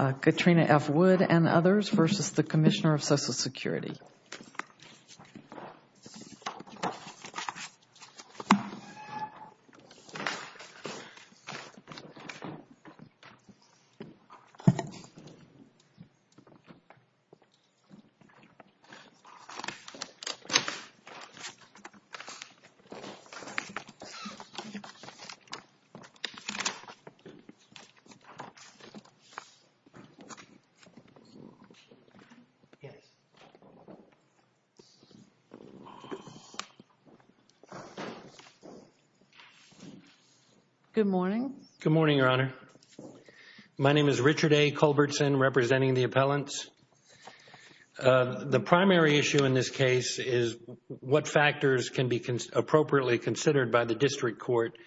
, Katrina F. Wood and others v. The Commissioner of Social Security. Good morning, Your Honor. My name is Richard A. Culbertson, representing the appellants. The primary issue in this case is what factors can be appropriately considered by the district court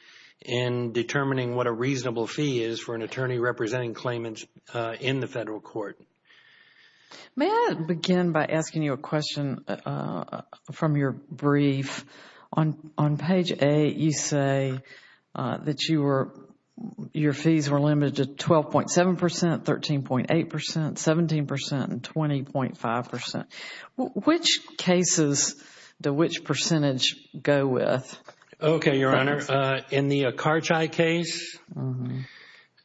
in determining what a reasonable fee is for an attorney representing claimants in the federal court. May I begin by asking you a question from your brief? On page 8, you say that your fees were limited to 12.7 percent, 13.8 percent, 17 percent and 20.5 percent. Which cases do which percentage go with? Okay, Your Honor. In the Akarchai case,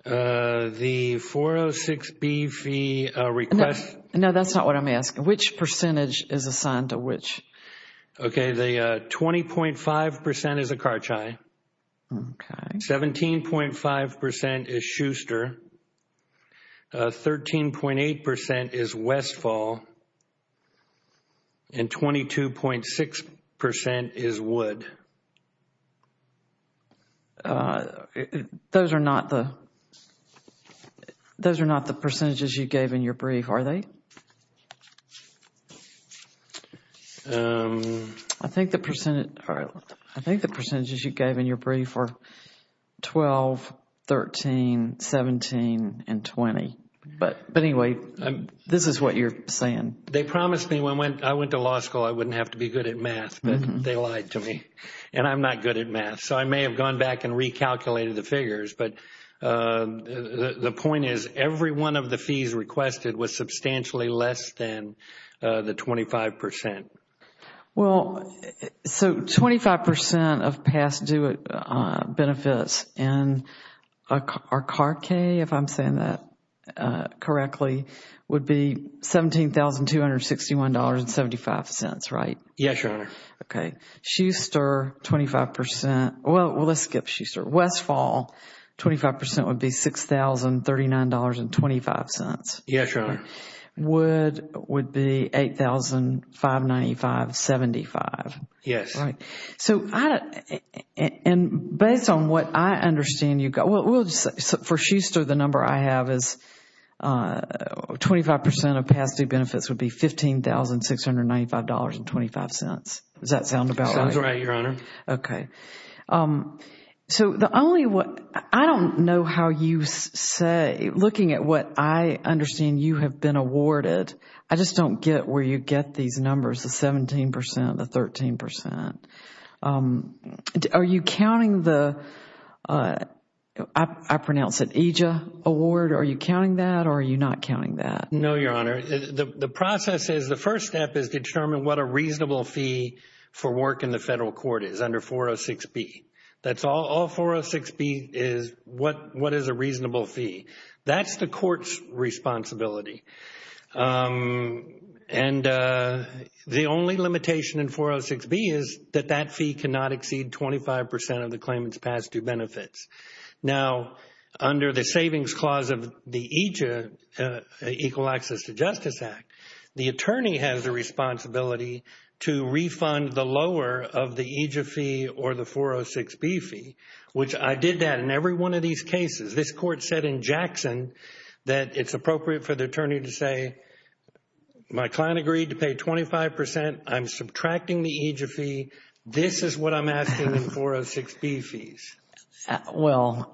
the 406B fee request No, that's not what I'm asking. Which percentage is assigned to which? Okay, the 20.5 percent is Akarchai, 17.5 percent is Schuster, 13.8 percent is Westfall, and 22.6 percent is Wood. Those are not the percentages you gave in your brief, are they? I think the percentages you gave in your brief are 12, 13, 17, and 20, but anyway, this is what you're saying. They promised me when I went to law school I wouldn't have to be good at math, but they lied to me, and I'm not good at math, so I may have gone back and recalculated the figures, but the point is every one of the fees requested was substantially less than the 25 percent. Well, so 25 percent of past due benefits in Akarchai, if I'm saying that correctly, would be $17,261.75, right? Yes, Your Honor. Okay. Schuster, 25 percent, well, let's skip Schuster. Westfall, 25 percent would be $6,039.25. Yes, Your Honor. Wood would be $8,595.75. Yes. Based on what I understand, for Schuster, the number I have is 25 percent of past due benefits would be $15,695.25. Does that sound about right? Sounds right, Your Honor. Okay. So the only one, I don't know how you say, looking at what I understand you have been Are you counting the, I pronounce it, EJIA award? Are you counting that or are you not counting that? No, Your Honor. The process is, the first step is determine what a reasonable fee for work in the federal court is under 406B. That's all. All 406B is what is a reasonable fee. That's the court's responsibility. And the only limitation in 406B is that that fee cannot exceed 25 percent of the claimant's past due benefits. Now, under the Savings Clause of the EJIA, Equal Access to Justice Act, the attorney has the responsibility to refund the lower of the EJIA fee or the 406B fee, which I did that in every one of these cases. This court said in Jackson that it's appropriate for the attorney to say, my client agreed to pay 25 percent. I'm subtracting the EJIA fee. This is what I'm asking in 406B fees. Well,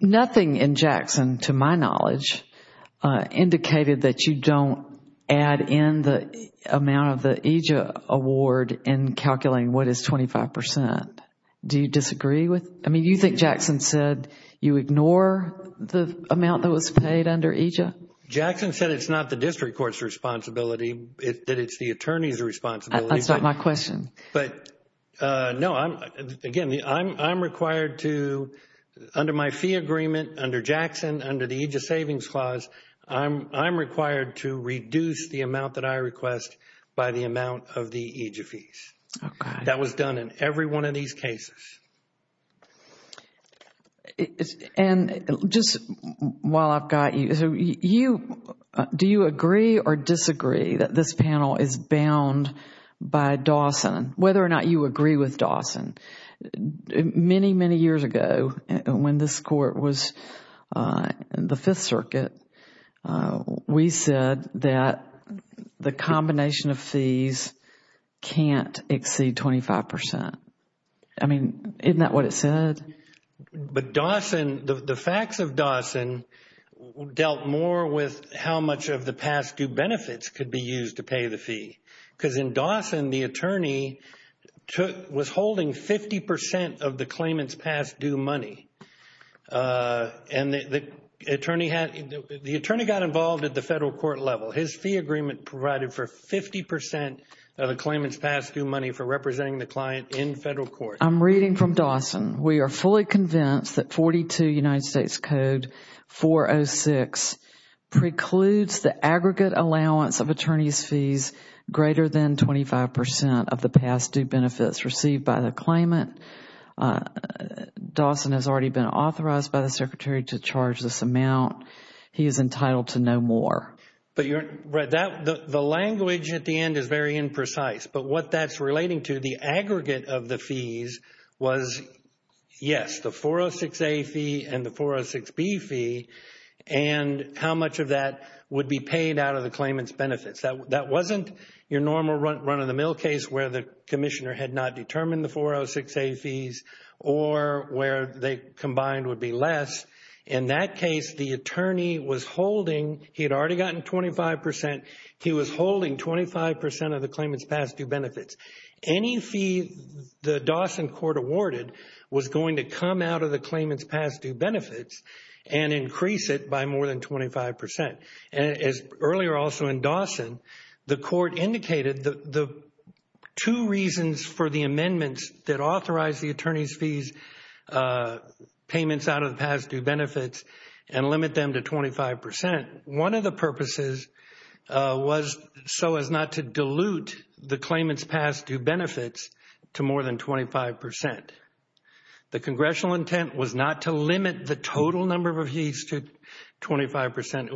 nothing in Jackson, to my knowledge, indicated that you don't add in the amount of the EJIA award in calculating what is 25 percent. Do you disagree with... I mean, you think Jackson said you ignore the amount that was paid under EJIA? Jackson said it's not the district court's responsibility, that it's the attorney's responsibility. That's not my question. But, no, again, I'm required to, under my fee agreement, under Jackson, under the EJIA Savings Clause, I'm required to reduce the amount that I request by the amount of the EJIA fees. Okay. That was done in every one of these cases. And just while I've got you, do you agree or disagree that this panel is bound by Dawson, whether or not you agree with Dawson? Many, many years ago, when this court was in the Fifth Circuit, we said that the combination of fees can't exceed 25 percent. I mean, isn't that what it said? But Dawson, the facts of Dawson dealt more with how much of the past due benefits could be used to pay the fee. Because in Dawson, the attorney was holding 50 percent of the claimant's past due money. And the attorney got involved at the federal court level. His fee agreement provided for 50 percent of the claimant's past due money for representing the client in federal court. I'm reading from Dawson. We are fully convinced that 42 United States Code 406 precludes the aggregate allowance of attorney's fees greater than 25 percent of the past due benefits received by the claimant. Dawson has already been authorized by the Secretary to charge this amount. He is entitled to no more. But the language at the end is very imprecise. But what that's relating to, the aggregate of the fees was, yes, the 406A fee and the 406B fee, and how much of that would be paid out of the claimant's benefits. That wasn't your normal run-of-the-mill case where the commissioner had not determined the 406A fees or where they combined would be less. In that case, the attorney was holding, he had already gotten 25 percent, he was holding 25 percent of the claimant's past due benefits. Any fee the Dawson court awarded was going to come out of the claimant's past due benefits and increase it by more than 25 percent. Earlier also in Dawson, the court indicated the two reasons for the amendments that authorized the attorney's fees payments out of the past due benefits and limit them to 25 percent. One of the purposes was so as not to dilute the claimant's past due benefits to more than 25 percent. The congressional intent was not to limit the total number of fees to 25 percent.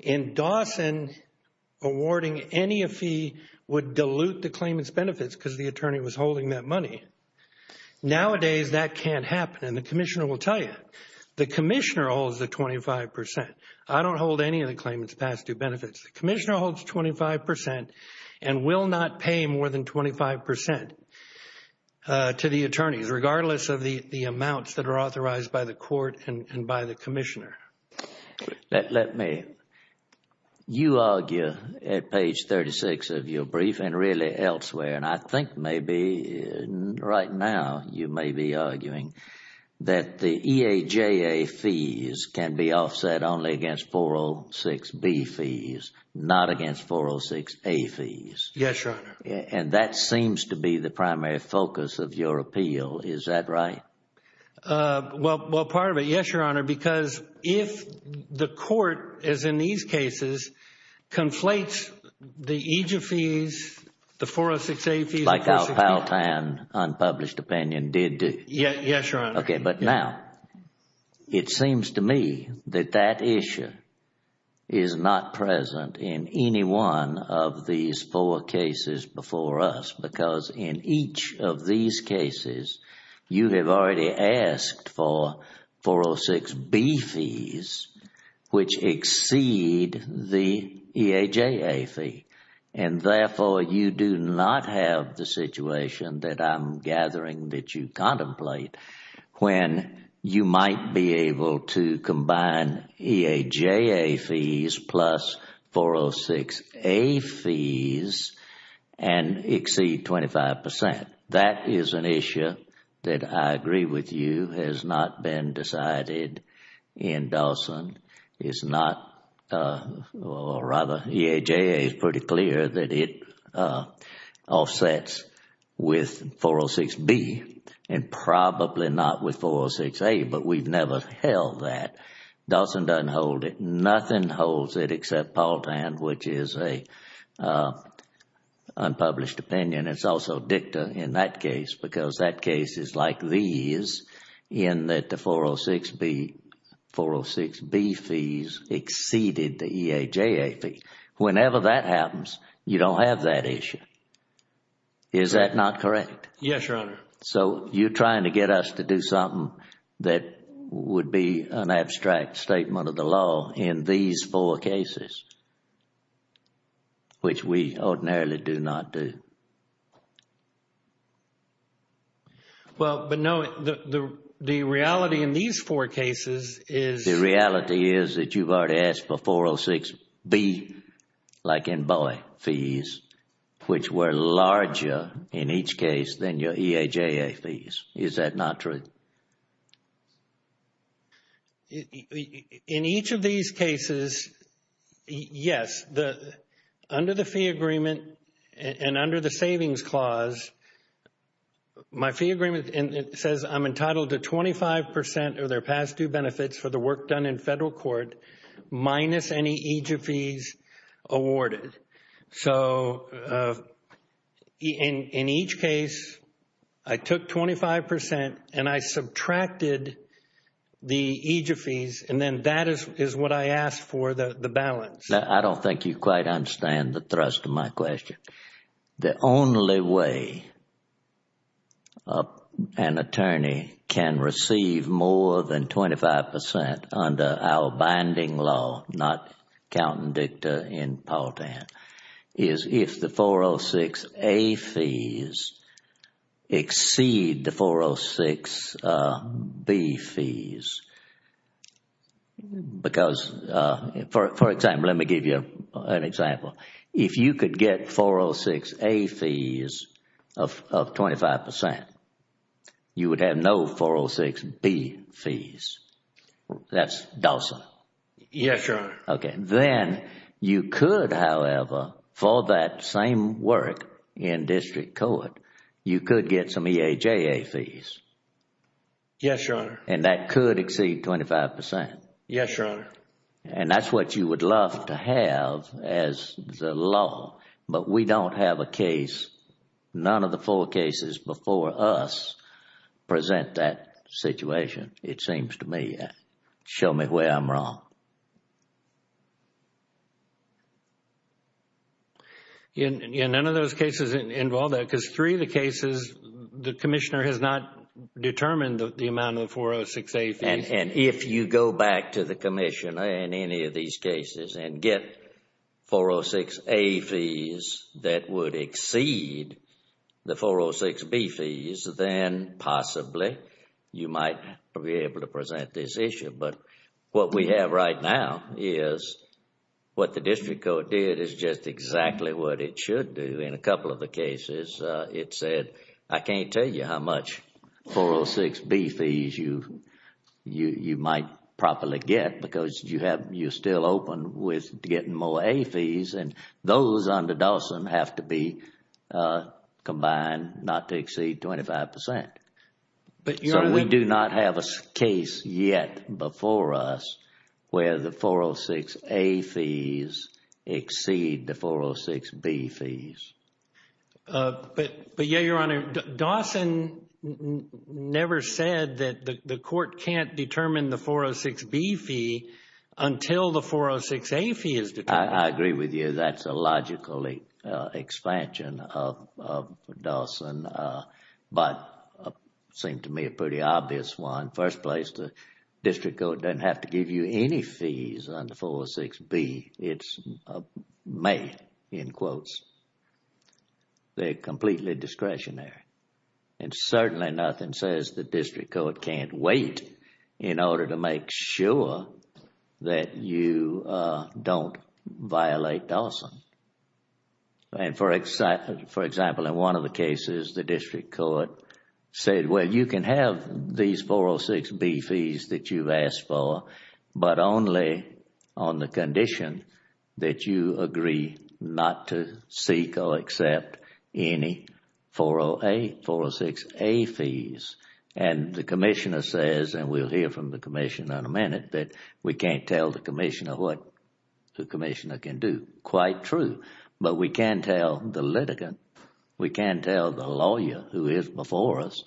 In Dawson, awarding any fee would dilute the claimant's benefits because the attorney was holding that money. Nowadays, that can't happen and the commissioner will tell you. The commissioner holds the 25 percent. I don't hold any of the claimant's past due benefits. The commissioner holds 25 percent and will not pay more than 25 percent to the attorneys regardless of the amounts that are authorized by the court and by the commissioner. You argue at page 36 of your brief and really elsewhere and I think maybe right now you may be arguing that the EAJA fees can be offset only against 406B fees, not against 406A fees. Yes, Your Honor. And that seems to be the primary focus of your appeal. Is that right? Well, part of it. Yes, Your Honor. Because if the court, as in these cases, conflates the EAJA fees, the 406A fees... Like our Pal Tan unpublished opinion did do. Yes, Your Honor. Okay. But now, it seems to me that that issue is not present in any one of these four cases before us because in each of these cases, you have already asked for 406B fees which exceed the EAJA fee. And therefore, you do not have the situation that I'm gathering that you contemplate when you might be able to combine EAJA fees plus 406A fees and exceed 25 percent. That is an issue that I agree with you has not been decided in Dawson. It's not... or rather, EAJA is pretty clear that it offsets with 406B and probably not with 406A. But we've never held that. Dawson doesn't hold it. Nothing holds it except Pal Tan, which is an unpublished opinion. It's also dicta in that case because that case is like these in that the 406B fees exceeded the EAJA fee. Whenever that happens, you don't have that issue. Is that not correct? Yes, Your Honor. So you're trying to get us to do something that would be an abstract statement of the law in these four cases, which we ordinarily do not do. Well, but no, the reality in these four cases is... Is that not true? In each of these cases, yes, under the fee agreement and under the savings clause, my fee agreement says I'm entitled to 25 percent of their past due benefits for the work done in federal court minus any EAJA fees awarded. So in each case, I took 25 percent and I subtracted the EAJA fees and then that is what I asked for, the balance. I don't think you quite understand the thrust of my question. The only way an attorney can receive more than 25 percent under our binding law, not counting dicta in Paltan, is if the 406A fees exceed the 406B fees. Because, for example, let me give you an example. If you could get 406A fees of 25 percent, you would have no 406B fees. That's docile. Yes, Your Honor. Okay. Then you could, however, for that same work in district court, you could get some EAJA fees. Yes, Your Honor. And that could exceed 25 percent. Yes, Your Honor. And that's what you would love to have as the law. But we don't have a case, none of the four cases before us present that situation, it seems to me. Show me where I'm wrong. None of those cases involve that because three of the cases, the commissioner has not determined the amount of 406A fees. And if you go back to the commissioner in any of these cases and get 406A fees that would exceed the 406B fees, then possibly you might be able to present this issue. But what we have right now is what the district court did is just exactly what it should do. In a couple of the cases, it said, I can't tell you how much 406B fees you might properly get because you're still open with getting more A fees and those under Dawson have to be combined not to exceed 25 percent. So we do not have a case yet before us where the 406A fees exceed the 406B fees. But, yes, Your Honor, Dawson never said that the court can't determine the 406B fee until the 406A fee is determined. I agree with you. That's a logical expansion of Dawson. But it seemed to me a pretty obvious one. First place, the district court doesn't have to give you any fees under 406B. It's may, in quotes. They're completely discretionary. And certainly nothing says the district court can't wait in order to make sure that you don't violate Dawson. And for example, in one of the cases, the district court said, well, you can have these 406B fees that you've asked for, but only on the condition that you agree not to seek or accept any 406A fees. And the commissioner says, and we'll hear from the commissioner in a minute, that we can't tell the commissioner what the commissioner can do. Quite true. But we can tell the litigant. We can tell the lawyer who is before us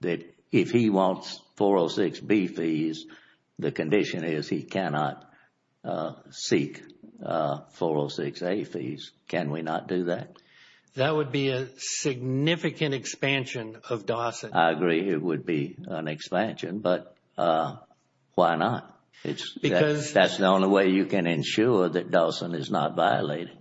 that if he wants 406B fees, the condition is he cannot seek 406A fees. Can we not do that? That would be a significant expansion of Dawson. I agree it would be an expansion, but why not? That's the only way you can ensure that Dawson is not violated.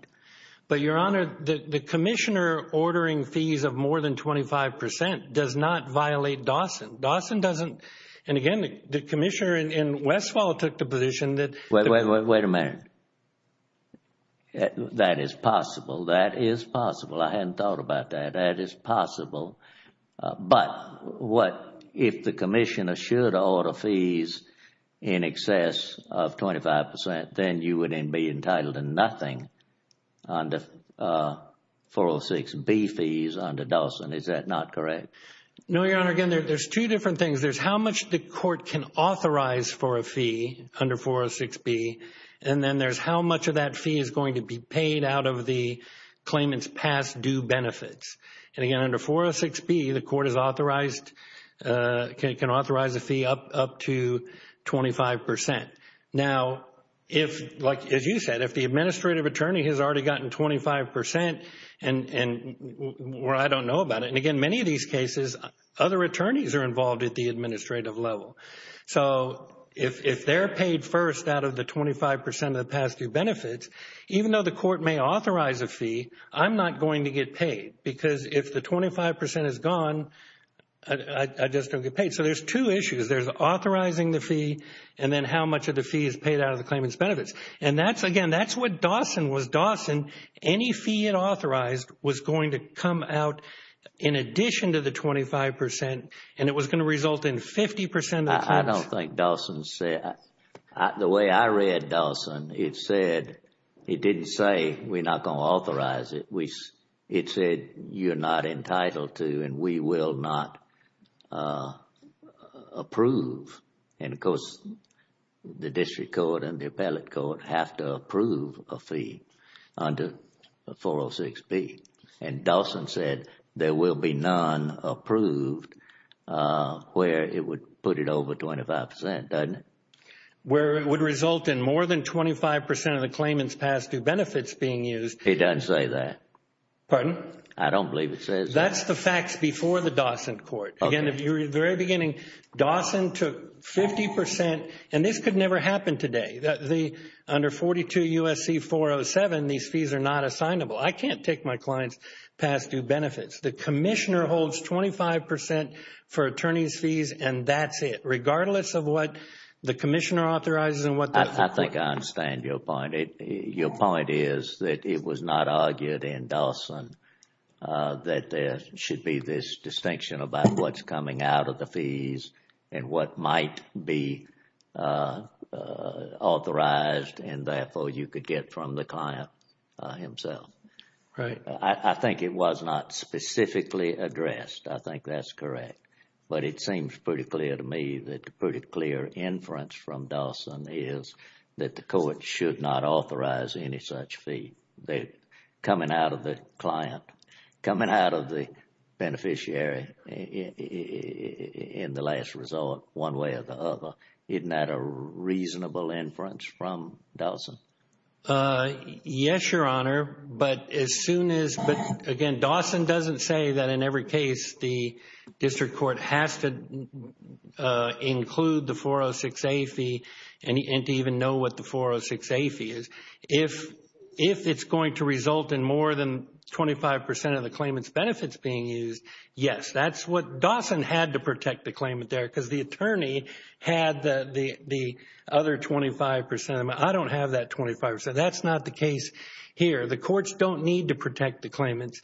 But, Your Honor, the commissioner ordering fees of more than 25 percent does not violate Dawson. Dawson doesn't, and again, the commissioner in Westfall took the position that Wait a minute. That is possible. That is possible. I hadn't thought about that. That is possible. But if the commissioner should order fees in excess of 25 percent, then you wouldn't be entitled to nothing under 406B fees under Dawson. Is that not correct? No, Your Honor. Again, there's two different things. There's how much the court can authorize for a fee under 406B, and then there's how much of that fee is going to be paid out of the claimant's past due benefits. And again, under 406B, the court can authorize a fee up to 25 percent. Now, as you said, if the administrative attorney has already gotten 25 percent, well, I don't know about it. And again, many of these cases, other attorneys are involved at the administrative level. So if they're paid first out of the 25 percent of the past due benefits, even though the court may authorize a fee, I'm not going to get paid. Because if the 25 percent is gone, I just don't get paid. So there's two issues. There's authorizing the fee, and then how much of the fee is paid out of the claimant's benefits. And that's, again, that's what Dawson was. Any fee it authorized was going to come out in addition to the 25 percent, and it was going to result in 50 percent of the claims. I don't think Dawson said. The way I read Dawson, it said, it didn't say we're not going to authorize it. It said you're not entitled to and we will not approve. And, of course, the district court and the appellate court have to approve a fee under 406B. And Dawson said there will be none approved where it would put it over 25 percent, doesn't it? Where it would result in more than 25 percent of the claimant's past due benefits being used. It doesn't say that. Pardon? I don't believe it says that. That's the facts before the Dawson court. Again, at the very beginning, Dawson took 50 percent. And this could never happen today. Under 42 U.S.C. 407, these fees are not assignable. I can't take my client's past due benefits. The commissioner holds 25 percent for attorney's fees, and that's it. Regardless of what the commissioner authorizes. I think I understand your point. Your point is that it was not argued in Dawson that there should be this distinction about what's coming out of the fees and what might be authorized and, therefore, you could get from the client himself. Right. I think it was not specifically addressed. I think that's correct. But it seems pretty clear to me that the pretty clear inference from Dawson is that the court should not authorize any such fee. Coming out of the client, coming out of the beneficiary in the last resort, one way or the other, isn't that a reasonable inference from Dawson? Yes, Your Honor, but as soon as, again, Dawson doesn't say that in every case the district court has to include the 406A fee and to even know what the 406A fee is. If it's going to result in more than 25 percent of the claimant's benefits being used, yes. That's what Dawson had to protect the claimant there because the attorney had the other 25 percent. I don't have that 25 percent. That's not the case here. The courts don't need to protect the claimant,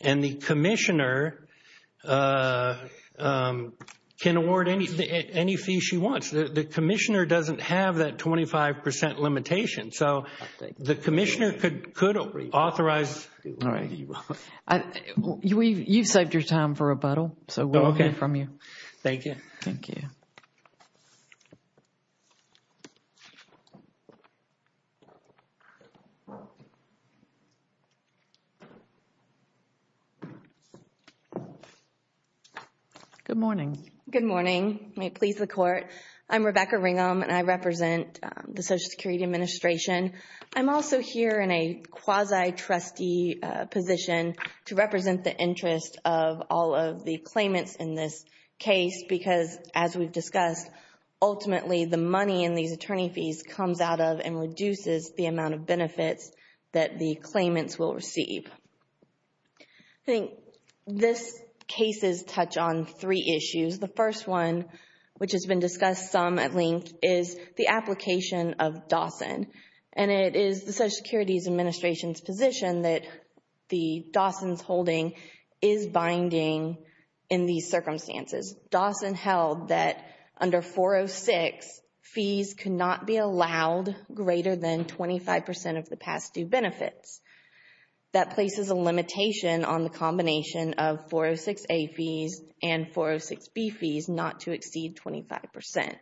and the commissioner can award any fee she wants. The commissioner doesn't have that 25 percent limitation, so the commissioner could authorize. You've saved your time for rebuttal, so we'll hear from you. Okay. Thank you. Thank you. Thank you. Good morning. Good morning. May it please the Court. I'm Rebecca Ringham, and I represent the Social Security Administration. I'm also here in a quasi-trustee position to represent the interest of all of the claimants in this case because, as we've discussed, ultimately the money in these attorney fees comes out of and reduces the amount of benefits that the claimants will receive. I think these cases touch on three issues. The first one, which has been discussed some at length, is the application of Dawson, and it is the Social Security Administration's position that Dawson's holding is binding in these circumstances. Dawson held that under 406, fees cannot be allowed greater than 25 percent of the past due benefits. That places a limitation on the combination of 406A fees and 406B fees not to exceed 25 percent.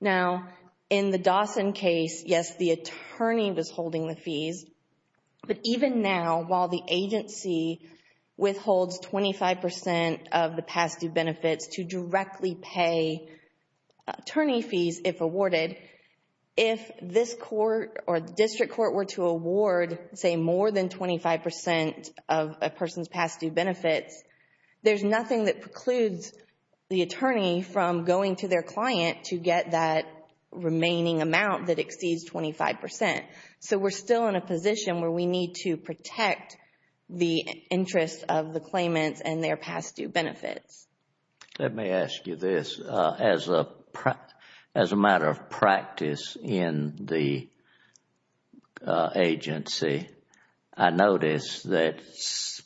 Now, in the Dawson case, yes, the attorney was holding the fees, but even now, while the agency withholds 25 percent of the past due benefits to directly pay attorney fees if awarded, if this court or the district court were to award, say, more than 25 percent of a person's past due benefits, there's nothing that precludes the attorney from going to their client to get that remaining amount that exceeds 25 percent. So we're still in a position where we need to protect the interests of the claimants and their past due benefits. Let me ask you this. As a matter of practice in the agency, I notice that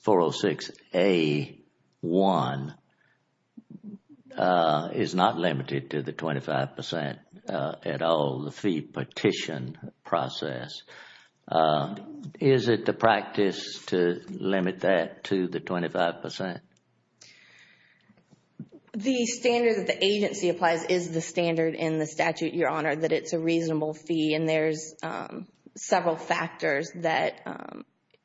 406A1 is not limited to the 25 percent at all. The fee petition process, is it the practice to limit that to the 25 percent? The standard that the agency applies is the standard in the statute, Your Honor, that it's a reasonable fee. There's several factors that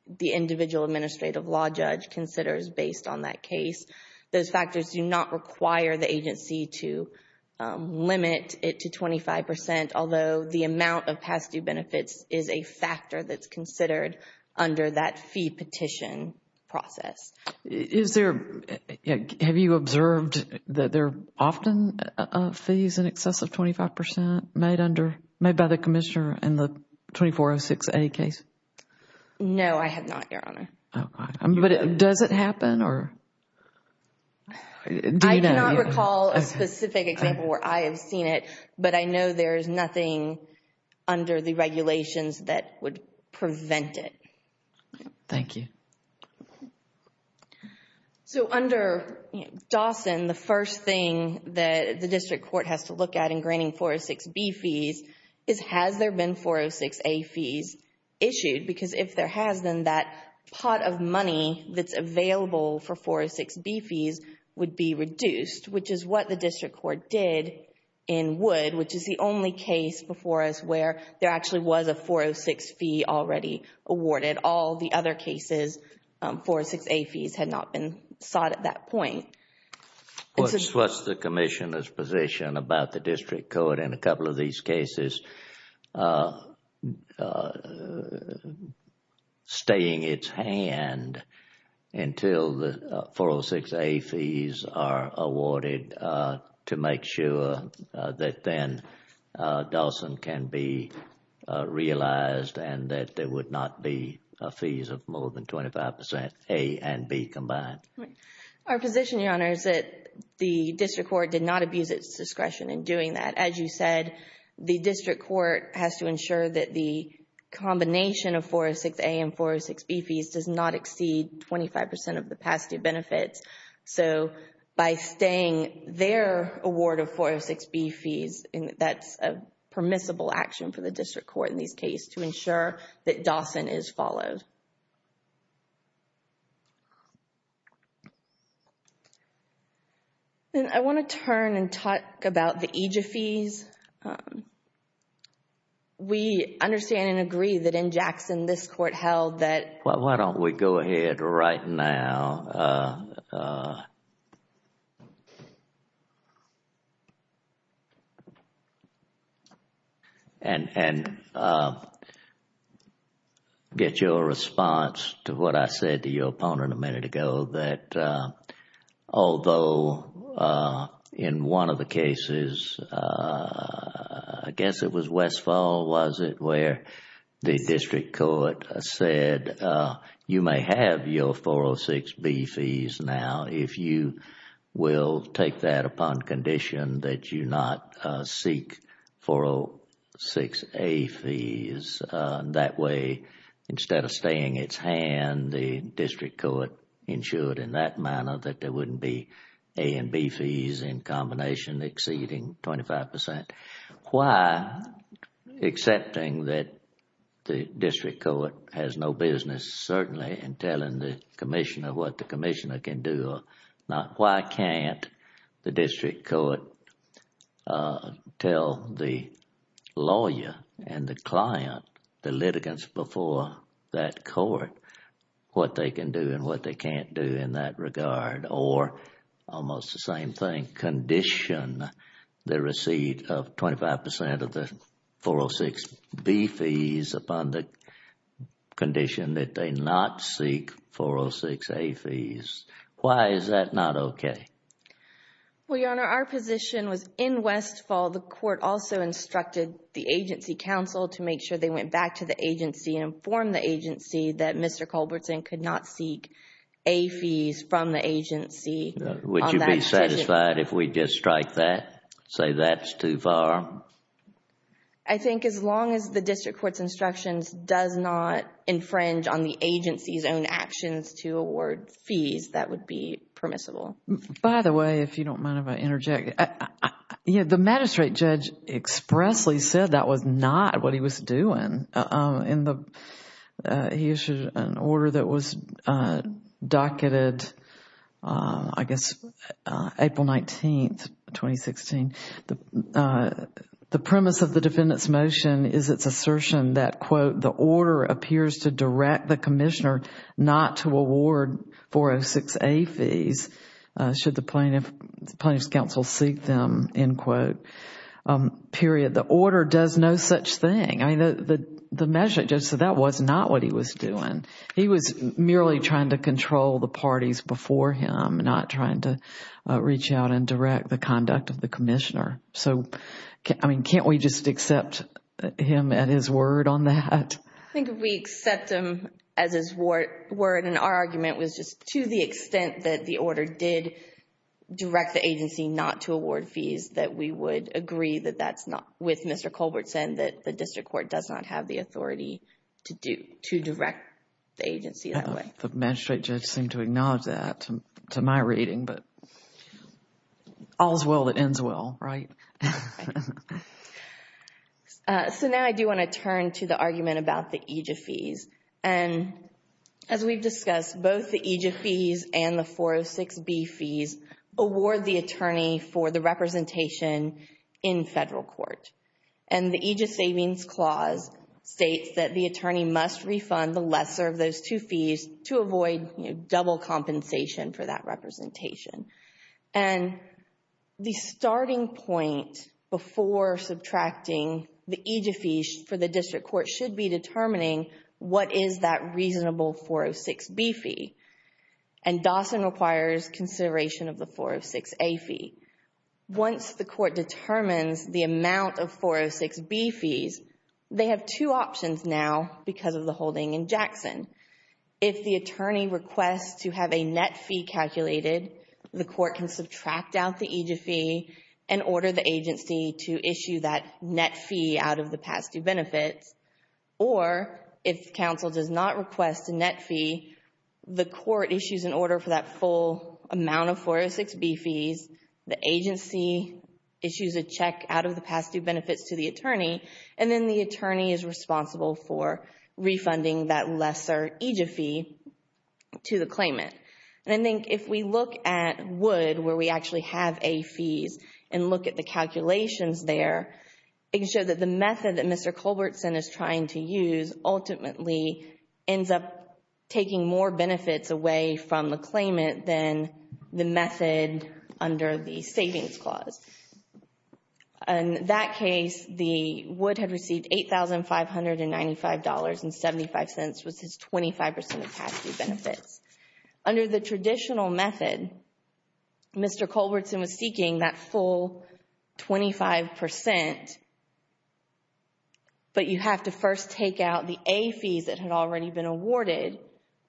the individual administrative law judge considers based on that case. Those factors do not require the agency to limit it to 25 percent, although the amount of past due benefits is a factor that's considered under that fee petition process. Have you observed that there are often fees in excess of 25 percent made by the commissioner in the 2406A case? Does it happen? I do not recall a specific example where I have seen it, but I know there is nothing under the regulations that would prevent it. Thank you. Under Dawson, the first thing that the district court has to look at in granting 406B fees is, has there been 406A fees issued? Because if there has, then that pot of money that's available for 406B fees would be reduced, which is what the district court did in Wood, which is the only case before us where there actually was a 406 fee already awarded. All the other cases, 406A fees had not been sought at that point. What's the commissioner's position about the district court in a couple of these cases staying its hand until the 406A fees are awarded to make sure that then Dawson can be realized and that there would not be fees of more than 25 percent A and B combined? Our position, Your Honor, is that the district court did not abuse its discretion in doing that. As you said, the district court has to ensure that the combination of 406A and 406B fees does not exceed 25 percent of the capacity of benefits. So by staying their award of 406B fees, that's a permissible action for the district court in these cases to ensure that Dawson is followed. I want to turn and talk about the AJA fees. We understand and agree that in Jackson, this court held that Why don't we go ahead right now and get your response to what I said to your opponent a minute ago, that although in one of the cases, I guess it was Westfall, was it, where the district court said you may have your 406B fees now if you will take that upon condition that you not seek 406A fees. That way, instead of staying its hand, the district court ensured in that manner that there wouldn't be A and B fees in combination exceeding 25 percent. Why, accepting that the district court has no business certainly in telling the commissioner what the commissioner can do or not, why can't the district court tell the lawyer and the client, the litigants before that court, what they can do and what they can't do in that regard or almost the same thing, condition the receipt of 25 percent of the 406B fees upon the condition that they not seek 406A fees. Why is that not okay? Well, Your Honor, our position was in Westfall, the court also instructed the agency counsel to make sure they went back to the agency and informed the agency that Mr. Culbertson could not seek A fees from the agency. Would you be satisfied if we just strike that, say that's too far? I think as long as the district court's instructions does not infringe on the agency's own actions to award fees, that would be permissible. By the way, if you don't mind if I interject, the magistrate judge expressly said that was not what he was doing. He issued an order that was docketed, I guess, April 19, 2016. The premise of the defendant's motion is its assertion that, quote, the order appears to direct the commissioner not to award 406A fees should the plaintiff's counsel seek them, end quote, period. The order does no such thing. I mean, the magistrate judge said that was not what he was doing. He was merely trying to control the parties before him, not trying to reach out and direct the conduct of the commissioner. So, I mean, can't we just accept him at his word on that? I think if we accept him as his word, and our argument was just to the extent that the order did direct the agency not to award fees, that we would agree that that's not, with Mr. Colbert saying that the district court does not have the authority to direct the agency that way. The magistrate judge seemed to acknowledge that to my reading, but all is well that ends well, right? So, now I do want to turn to the argument about the AJA fees. And as we've discussed, both the AJA fees and the 406B fees award the attorney for the representation in federal court. And the AJA Savings Clause states that the attorney must refund the lesser of those two fees to avoid double compensation for that representation. And the starting point before subtracting the AJA fees for the district court should be determining what is that reasonable 406B fee. And Dawson requires consideration of the 406A fee. Once the court determines the amount of 406B fees, they have two options now because of the holding in Jackson. If the attorney requests to have a net fee calculated, the court can subtract out the AJA fee and order the agency to issue that net fee out of the past due benefits. Or if counsel does not request a net fee, the court issues an order for that full amount of 406B fees, the agency issues a check out of the past due benefits to the attorney, and then the attorney is responsible for refunding that lesser AJA fee to the claimant. And I think if we look at Wood, where we actually have A fees, and look at the calculations there, it can show that the method that Mr. Culbertson is trying to use ultimately ends up taking more benefits away from the claimant than the method under the savings clause. In that case, the Wood had received $8,595.75, which is 25% of past due benefits. Under the traditional method, Mr. Culbertson was seeking that full 25%, but you have to first take out the A fees that had already been awarded,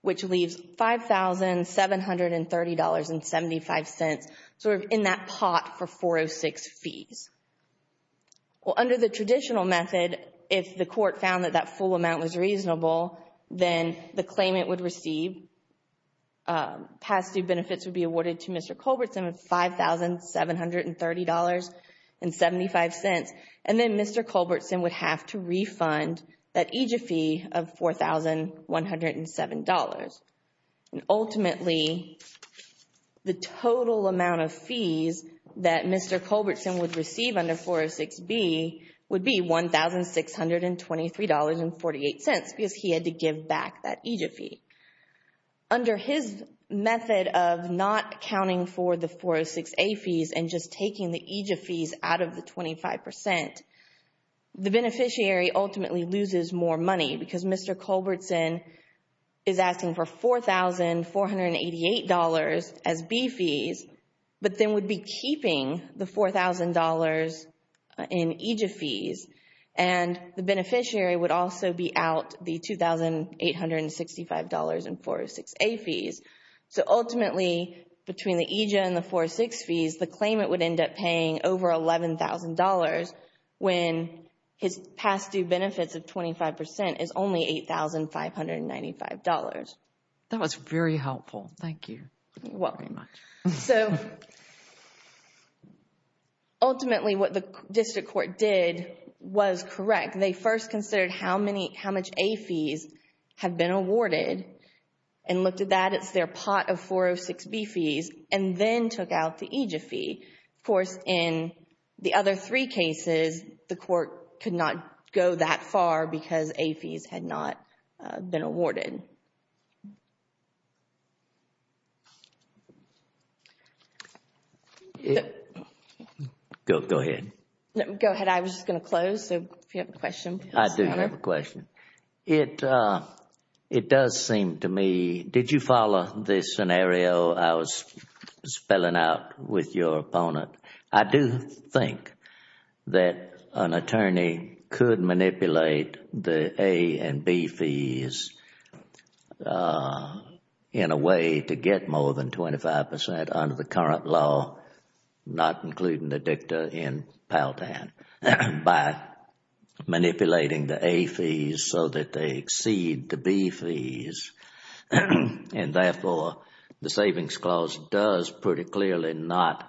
which leaves $5,730.75 sort of in that pot for 406 fees. Well, under the traditional method, if the court found that that full amount was reasonable, then the claimant would receive past due benefits would be awarded to Mr. Culbertson of $5,730.75, and then Mr. Culbertson would have to refund that AJA fee of $4,107. And ultimately, the total amount of fees that Mr. Culbertson would receive under 406B would be $1,623.48 because he had to give back that AJA fee. Under his method of not accounting for the 406A fees and just taking the AJA fees out of the 25%, the beneficiary ultimately loses more money because Mr. Culbertson is asking for $4,488 as B fees, but then would be keeping the $4,000 in AJA fees, and the beneficiary would also be out the $2,865 in 406A fees. So ultimately, between the AJA and the 406 fees, the claimant would end up paying over $11,000 when his past due benefits of 25% is only $8,595. That was very helpful. Thank you. You're welcome. So ultimately, what the district court did was correct. They first considered how many, how much A fees have been awarded and looked at that as their pot of 406B fees and then took out the AJA fee. Of course, in the other three cases, the court could not go that far because A fees had not been awarded. Go ahead. Go ahead. I was just going to close, so if you have a question. I do have a question. It does seem to me, did you follow this scenario I was spelling out with your opponent? I do think that an attorney could manipulate the A and B fees in a way to get more than 25% under the current law, not including the dicta in Peltan, by manipulating the A fees so that they exceed the B fees. And therefore, the Savings Clause does pretty clearly not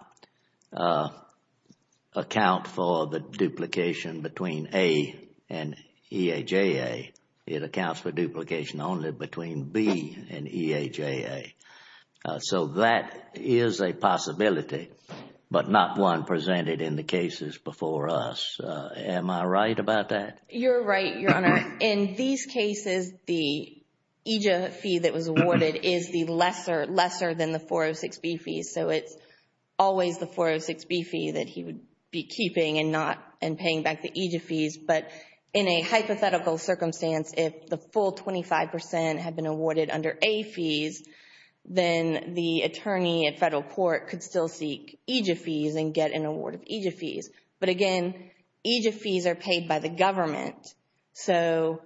account for the duplication between A and EAJA. It accounts for duplication only between B and EAJA. So that is a possibility, but not one presented in the cases before us. Am I right about that? You're right, Your Honor. In these cases, the EJA fee that was awarded is the lesser, lesser than the 406B fees. So it's always the 406B fee that he would be keeping and not, and paying back the EJA fees. But in a hypothetical circumstance, if the full 25% had been awarded under A fees, then the attorney at federal court could still seek EJA fees and get an award of EJA fees. But again, EJA fees are paid by the government. So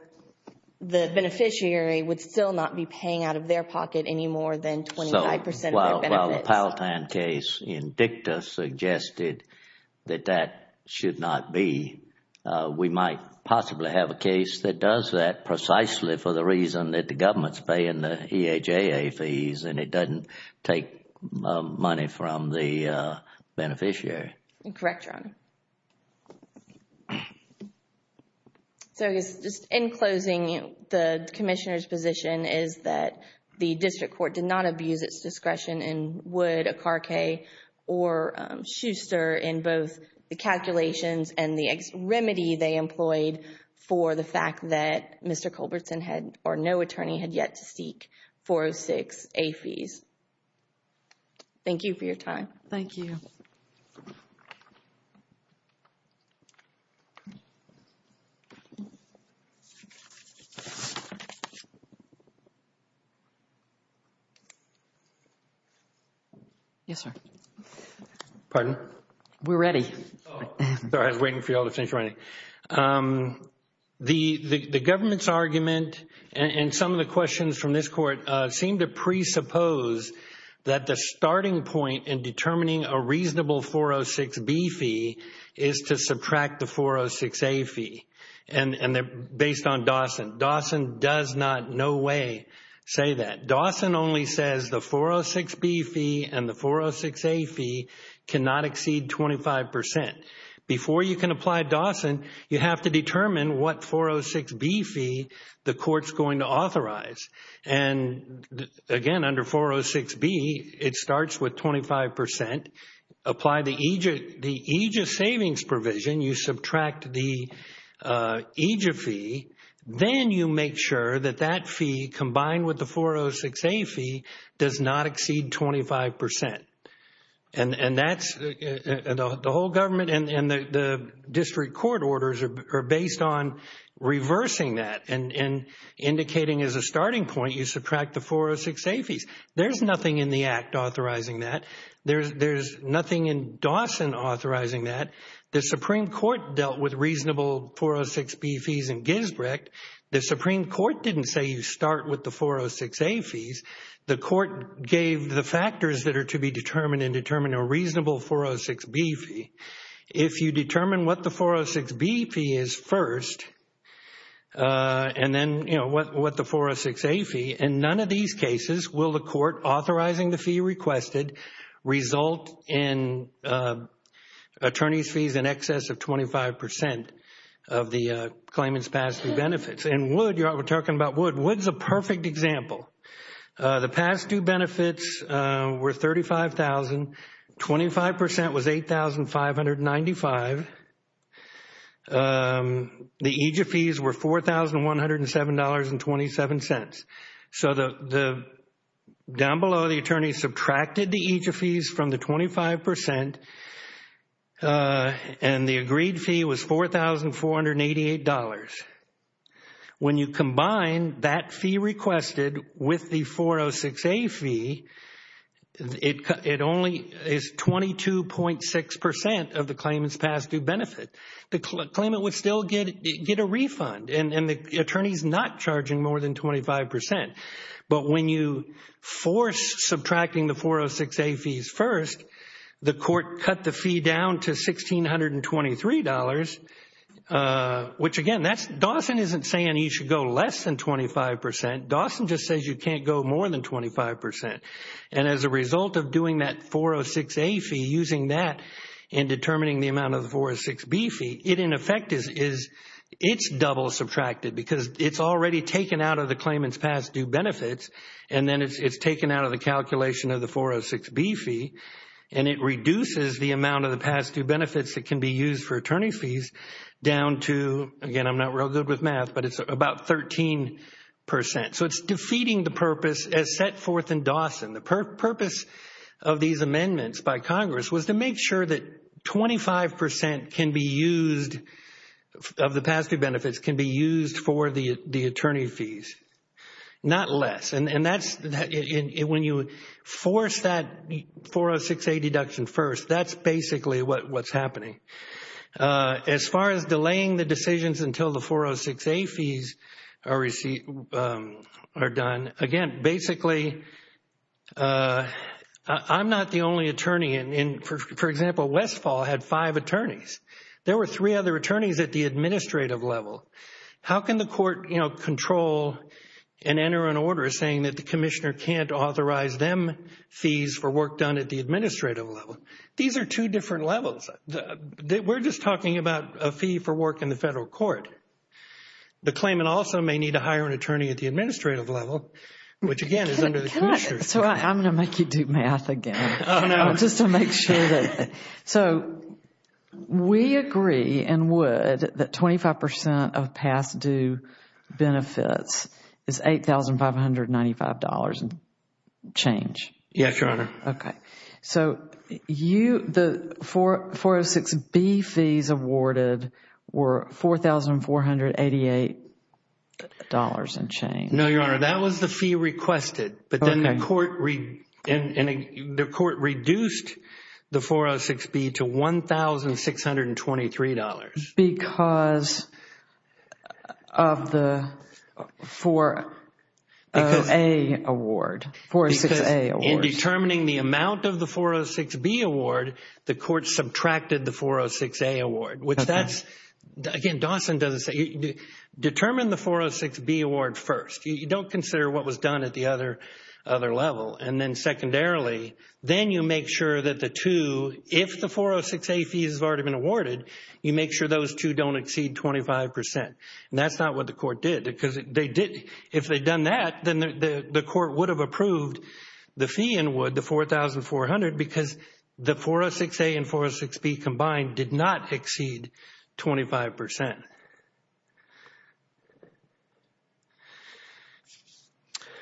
the beneficiary would still not be paying out of their pocket any more than 25% of their benefits. So while the Peltan case in dicta suggested that that should not be, we might possibly have a case that does that precisely for the reason that the government is paying the EJA fees and it doesn't take money from the beneficiary. Correct, Your Honor. So just in closing, the Commissioner's position is that the District Court did not abuse its discretion in Wood, Akarkay or Schuster in both the calculations and the remedy they employed for the fact that Mr. Culbertson had, or no attorney had yet to seek 406A fees. Thank you for your time. Thank you. Yes, sir. Pardon? We're ready. Sorry, I was waiting for you all to finish writing. The government's argument and some of the questions from this court seem to presuppose that the starting point in determining a reasonable 406B fee is to subtract the 406A fee. And they're based on Dawson. Dawson does not in no way say that. Dawson only says the 406B fee and the 406A fee cannot exceed 25%. Before you can apply Dawson, you have to determine what 406B fee the court's going to authorize. And, again, under 406B, it starts with 25%. Apply the EJA savings provision. You subtract the EJA fee. Then you make sure that that fee combined with the 406A fee does not exceed 25%. And the whole government and the district court orders are based on reversing that and indicating as a starting point you subtract the 406A fees. There's nothing in the Act authorizing that. There's nothing in Dawson authorizing that. The Supreme Court dealt with reasonable 406B fees in Gisbrecht. The Supreme Court didn't say you start with the 406A fees. The court gave the factors that are to be determined in determining a reasonable 406B fee. If you determine what the 406B fee is first and then, you know, what the 406A fee, in none of these cases will the court authorizing the fee requested result in attorney's fees in excess of 25% of the claimant's past due benefits. And Wood, we're talking about Wood. Wood's a perfect example. The past due benefits were $35,000. 25% was $8,595. The EJA fees were $4,107.27. So down below the attorney subtracted the EJA fees from the 25% and the agreed fee was $4,488. When you combine that fee requested with the 406A fee, it only is 22.6% of the claimant's past due benefit. The claimant would still get a refund, and the attorney's not charging more than 25%. But when you force subtracting the 406A fees first, the court cut the fee down to $1,623, which, again, Dawson isn't saying you should go less than 25%. Dawson just says you can't go more than 25%. And as a result of doing that 406A fee, using that in determining the amount of the 406B fee, it in effect is double subtracted because it's already taken out of the claimant's past due benefits, and then it's taken out of the calculation of the 406B fee, and it reduces the amount of the past due benefits that can be used for attorney fees down to, again, I'm not real good with math, but it's about 13%. So it's defeating the purpose as set forth in Dawson. The purpose of these amendments by Congress was to make sure that 25% can be used of the past due benefits can be used for the attorney fees, not less. And when you force that 406A deduction first, that's basically what's happening. As far as delaying the decisions until the 406A fees are done, again, basically I'm not the only attorney. For example, Westfall had five attorneys. There were three other attorneys at the administrative level. How can the court control and enter an order saying that the commissioner can't authorize them fees for work done at the administrative level? These are two different levels. We're just talking about a fee for work in the federal court. The claimant also may need to hire an attorney at the administrative level, which again is under the commissioners. So I'm going to make you do math again. Just to make sure. So we agree and would that 25% of past due benefits is $8,595 and change. Yes, Your Honor. Okay. So the 406B fees awarded were $4,488 and change. No, Your Honor. That was the fee requested. But then the court reduced the 406B to $1,623. Because of the 406A award. Because in determining the amount of the 406B award, the court subtracted the 406A award, which that's, again, Dawson doesn't say. Determine the 406B award first. You don't consider what was done at the other level. And then secondarily, then you make sure that the two, if the 406A fees have already been awarded, you make sure those two don't exceed 25%. And that's not what the court did. Because if they'd done that, then the court would have approved the fee and would, the $4,400, because the 406A and 406B combined did not exceed 25%.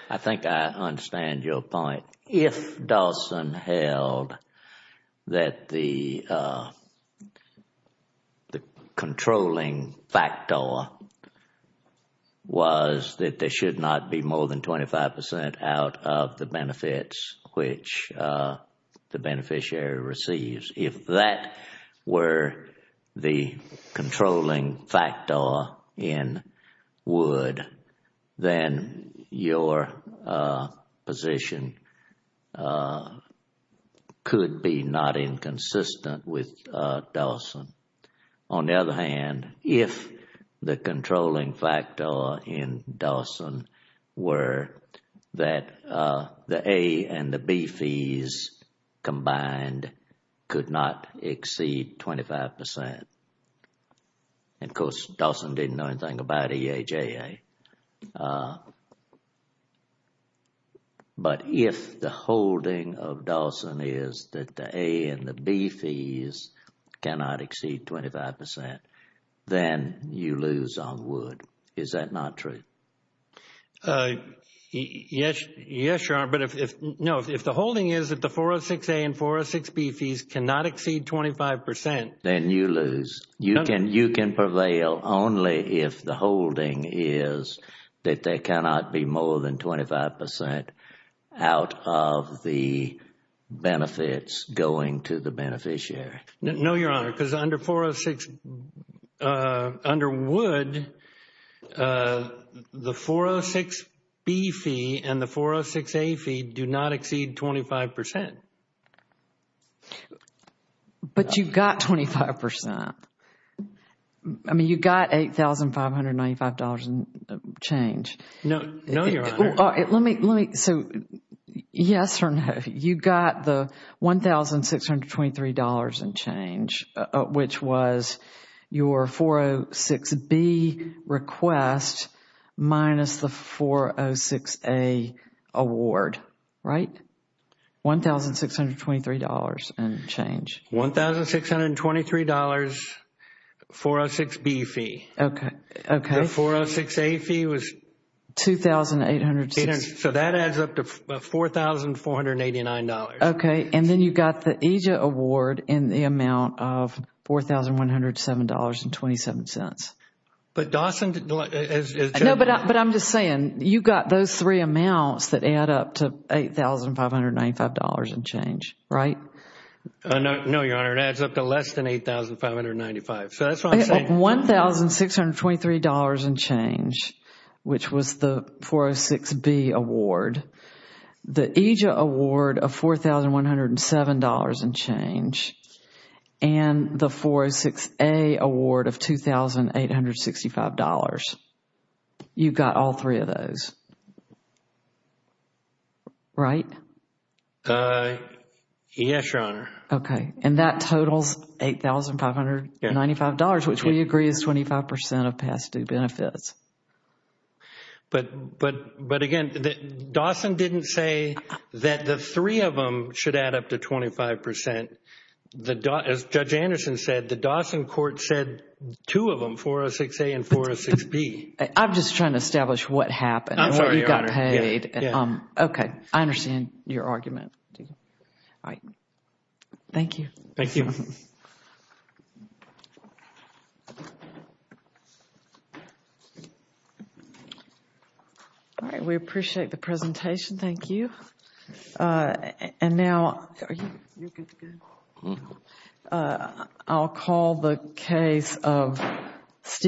I think I understand your point. If Dawson held that the controlling factor was that there should not be more than 25% out of the benefits which the beneficiary receives, if that were the controlling factor in Wood, then your position could be not inconsistent with Dawson. On the other hand, if the controlling factor in Dawson were that the A and the B fees combined could not exceed 25%, and of course Dawson didn't know anything about EHAA, but if the holding of Dawson is that the A and the B fees cannot exceed 25%, then you lose on Wood. Is that not true? Yes, Your Honor. But if the holding is that the 406A and 406B fees cannot exceed 25%, then you lose. You can prevail only if the holding is that there cannot be more than 25% out of the benefits going to the beneficiary. No, Your Honor, because under Wood, the 406B fee and the 406A fee do not exceed 25%. But you've got 25%. I mean, you've got $8,595 in change. No, Your Honor. So, yes or no, you've got the $1,623 in change, which was your 406B request minus the 406A award, right? $1,623 in change. $1,623, 406B fee. Okay. The 406A fee was? $2,806. So that adds up to $4,489. Okay. And then you've got the EJA award in the amount of $4,107.27. But Dawson is? No, but I'm just saying you've got those three amounts that add up to $8,595 in change, right? No, Your Honor, it adds up to less than $8,595. So that's what I'm saying. $1,623 in change, which was the 406B award, the EJA award of $4,107 in change, and the 406A award of $2,865. You've got all three of those, right? Yes, Your Honor. Okay. And that totals $8,595, which we agree is 25% of past due benefits. But, again, Dawson didn't say that the three of them should add up to 25%. As Judge Anderson said, the Dawson court said two of them, 406A and 406B. I'm just trying to establish what happened. I'm sorry, Your Honor. Okay. I understand your argument. All right. Thank you. Thank you. All right. We appreciate the presentation. Thank you. And now I'll call the case of Steve.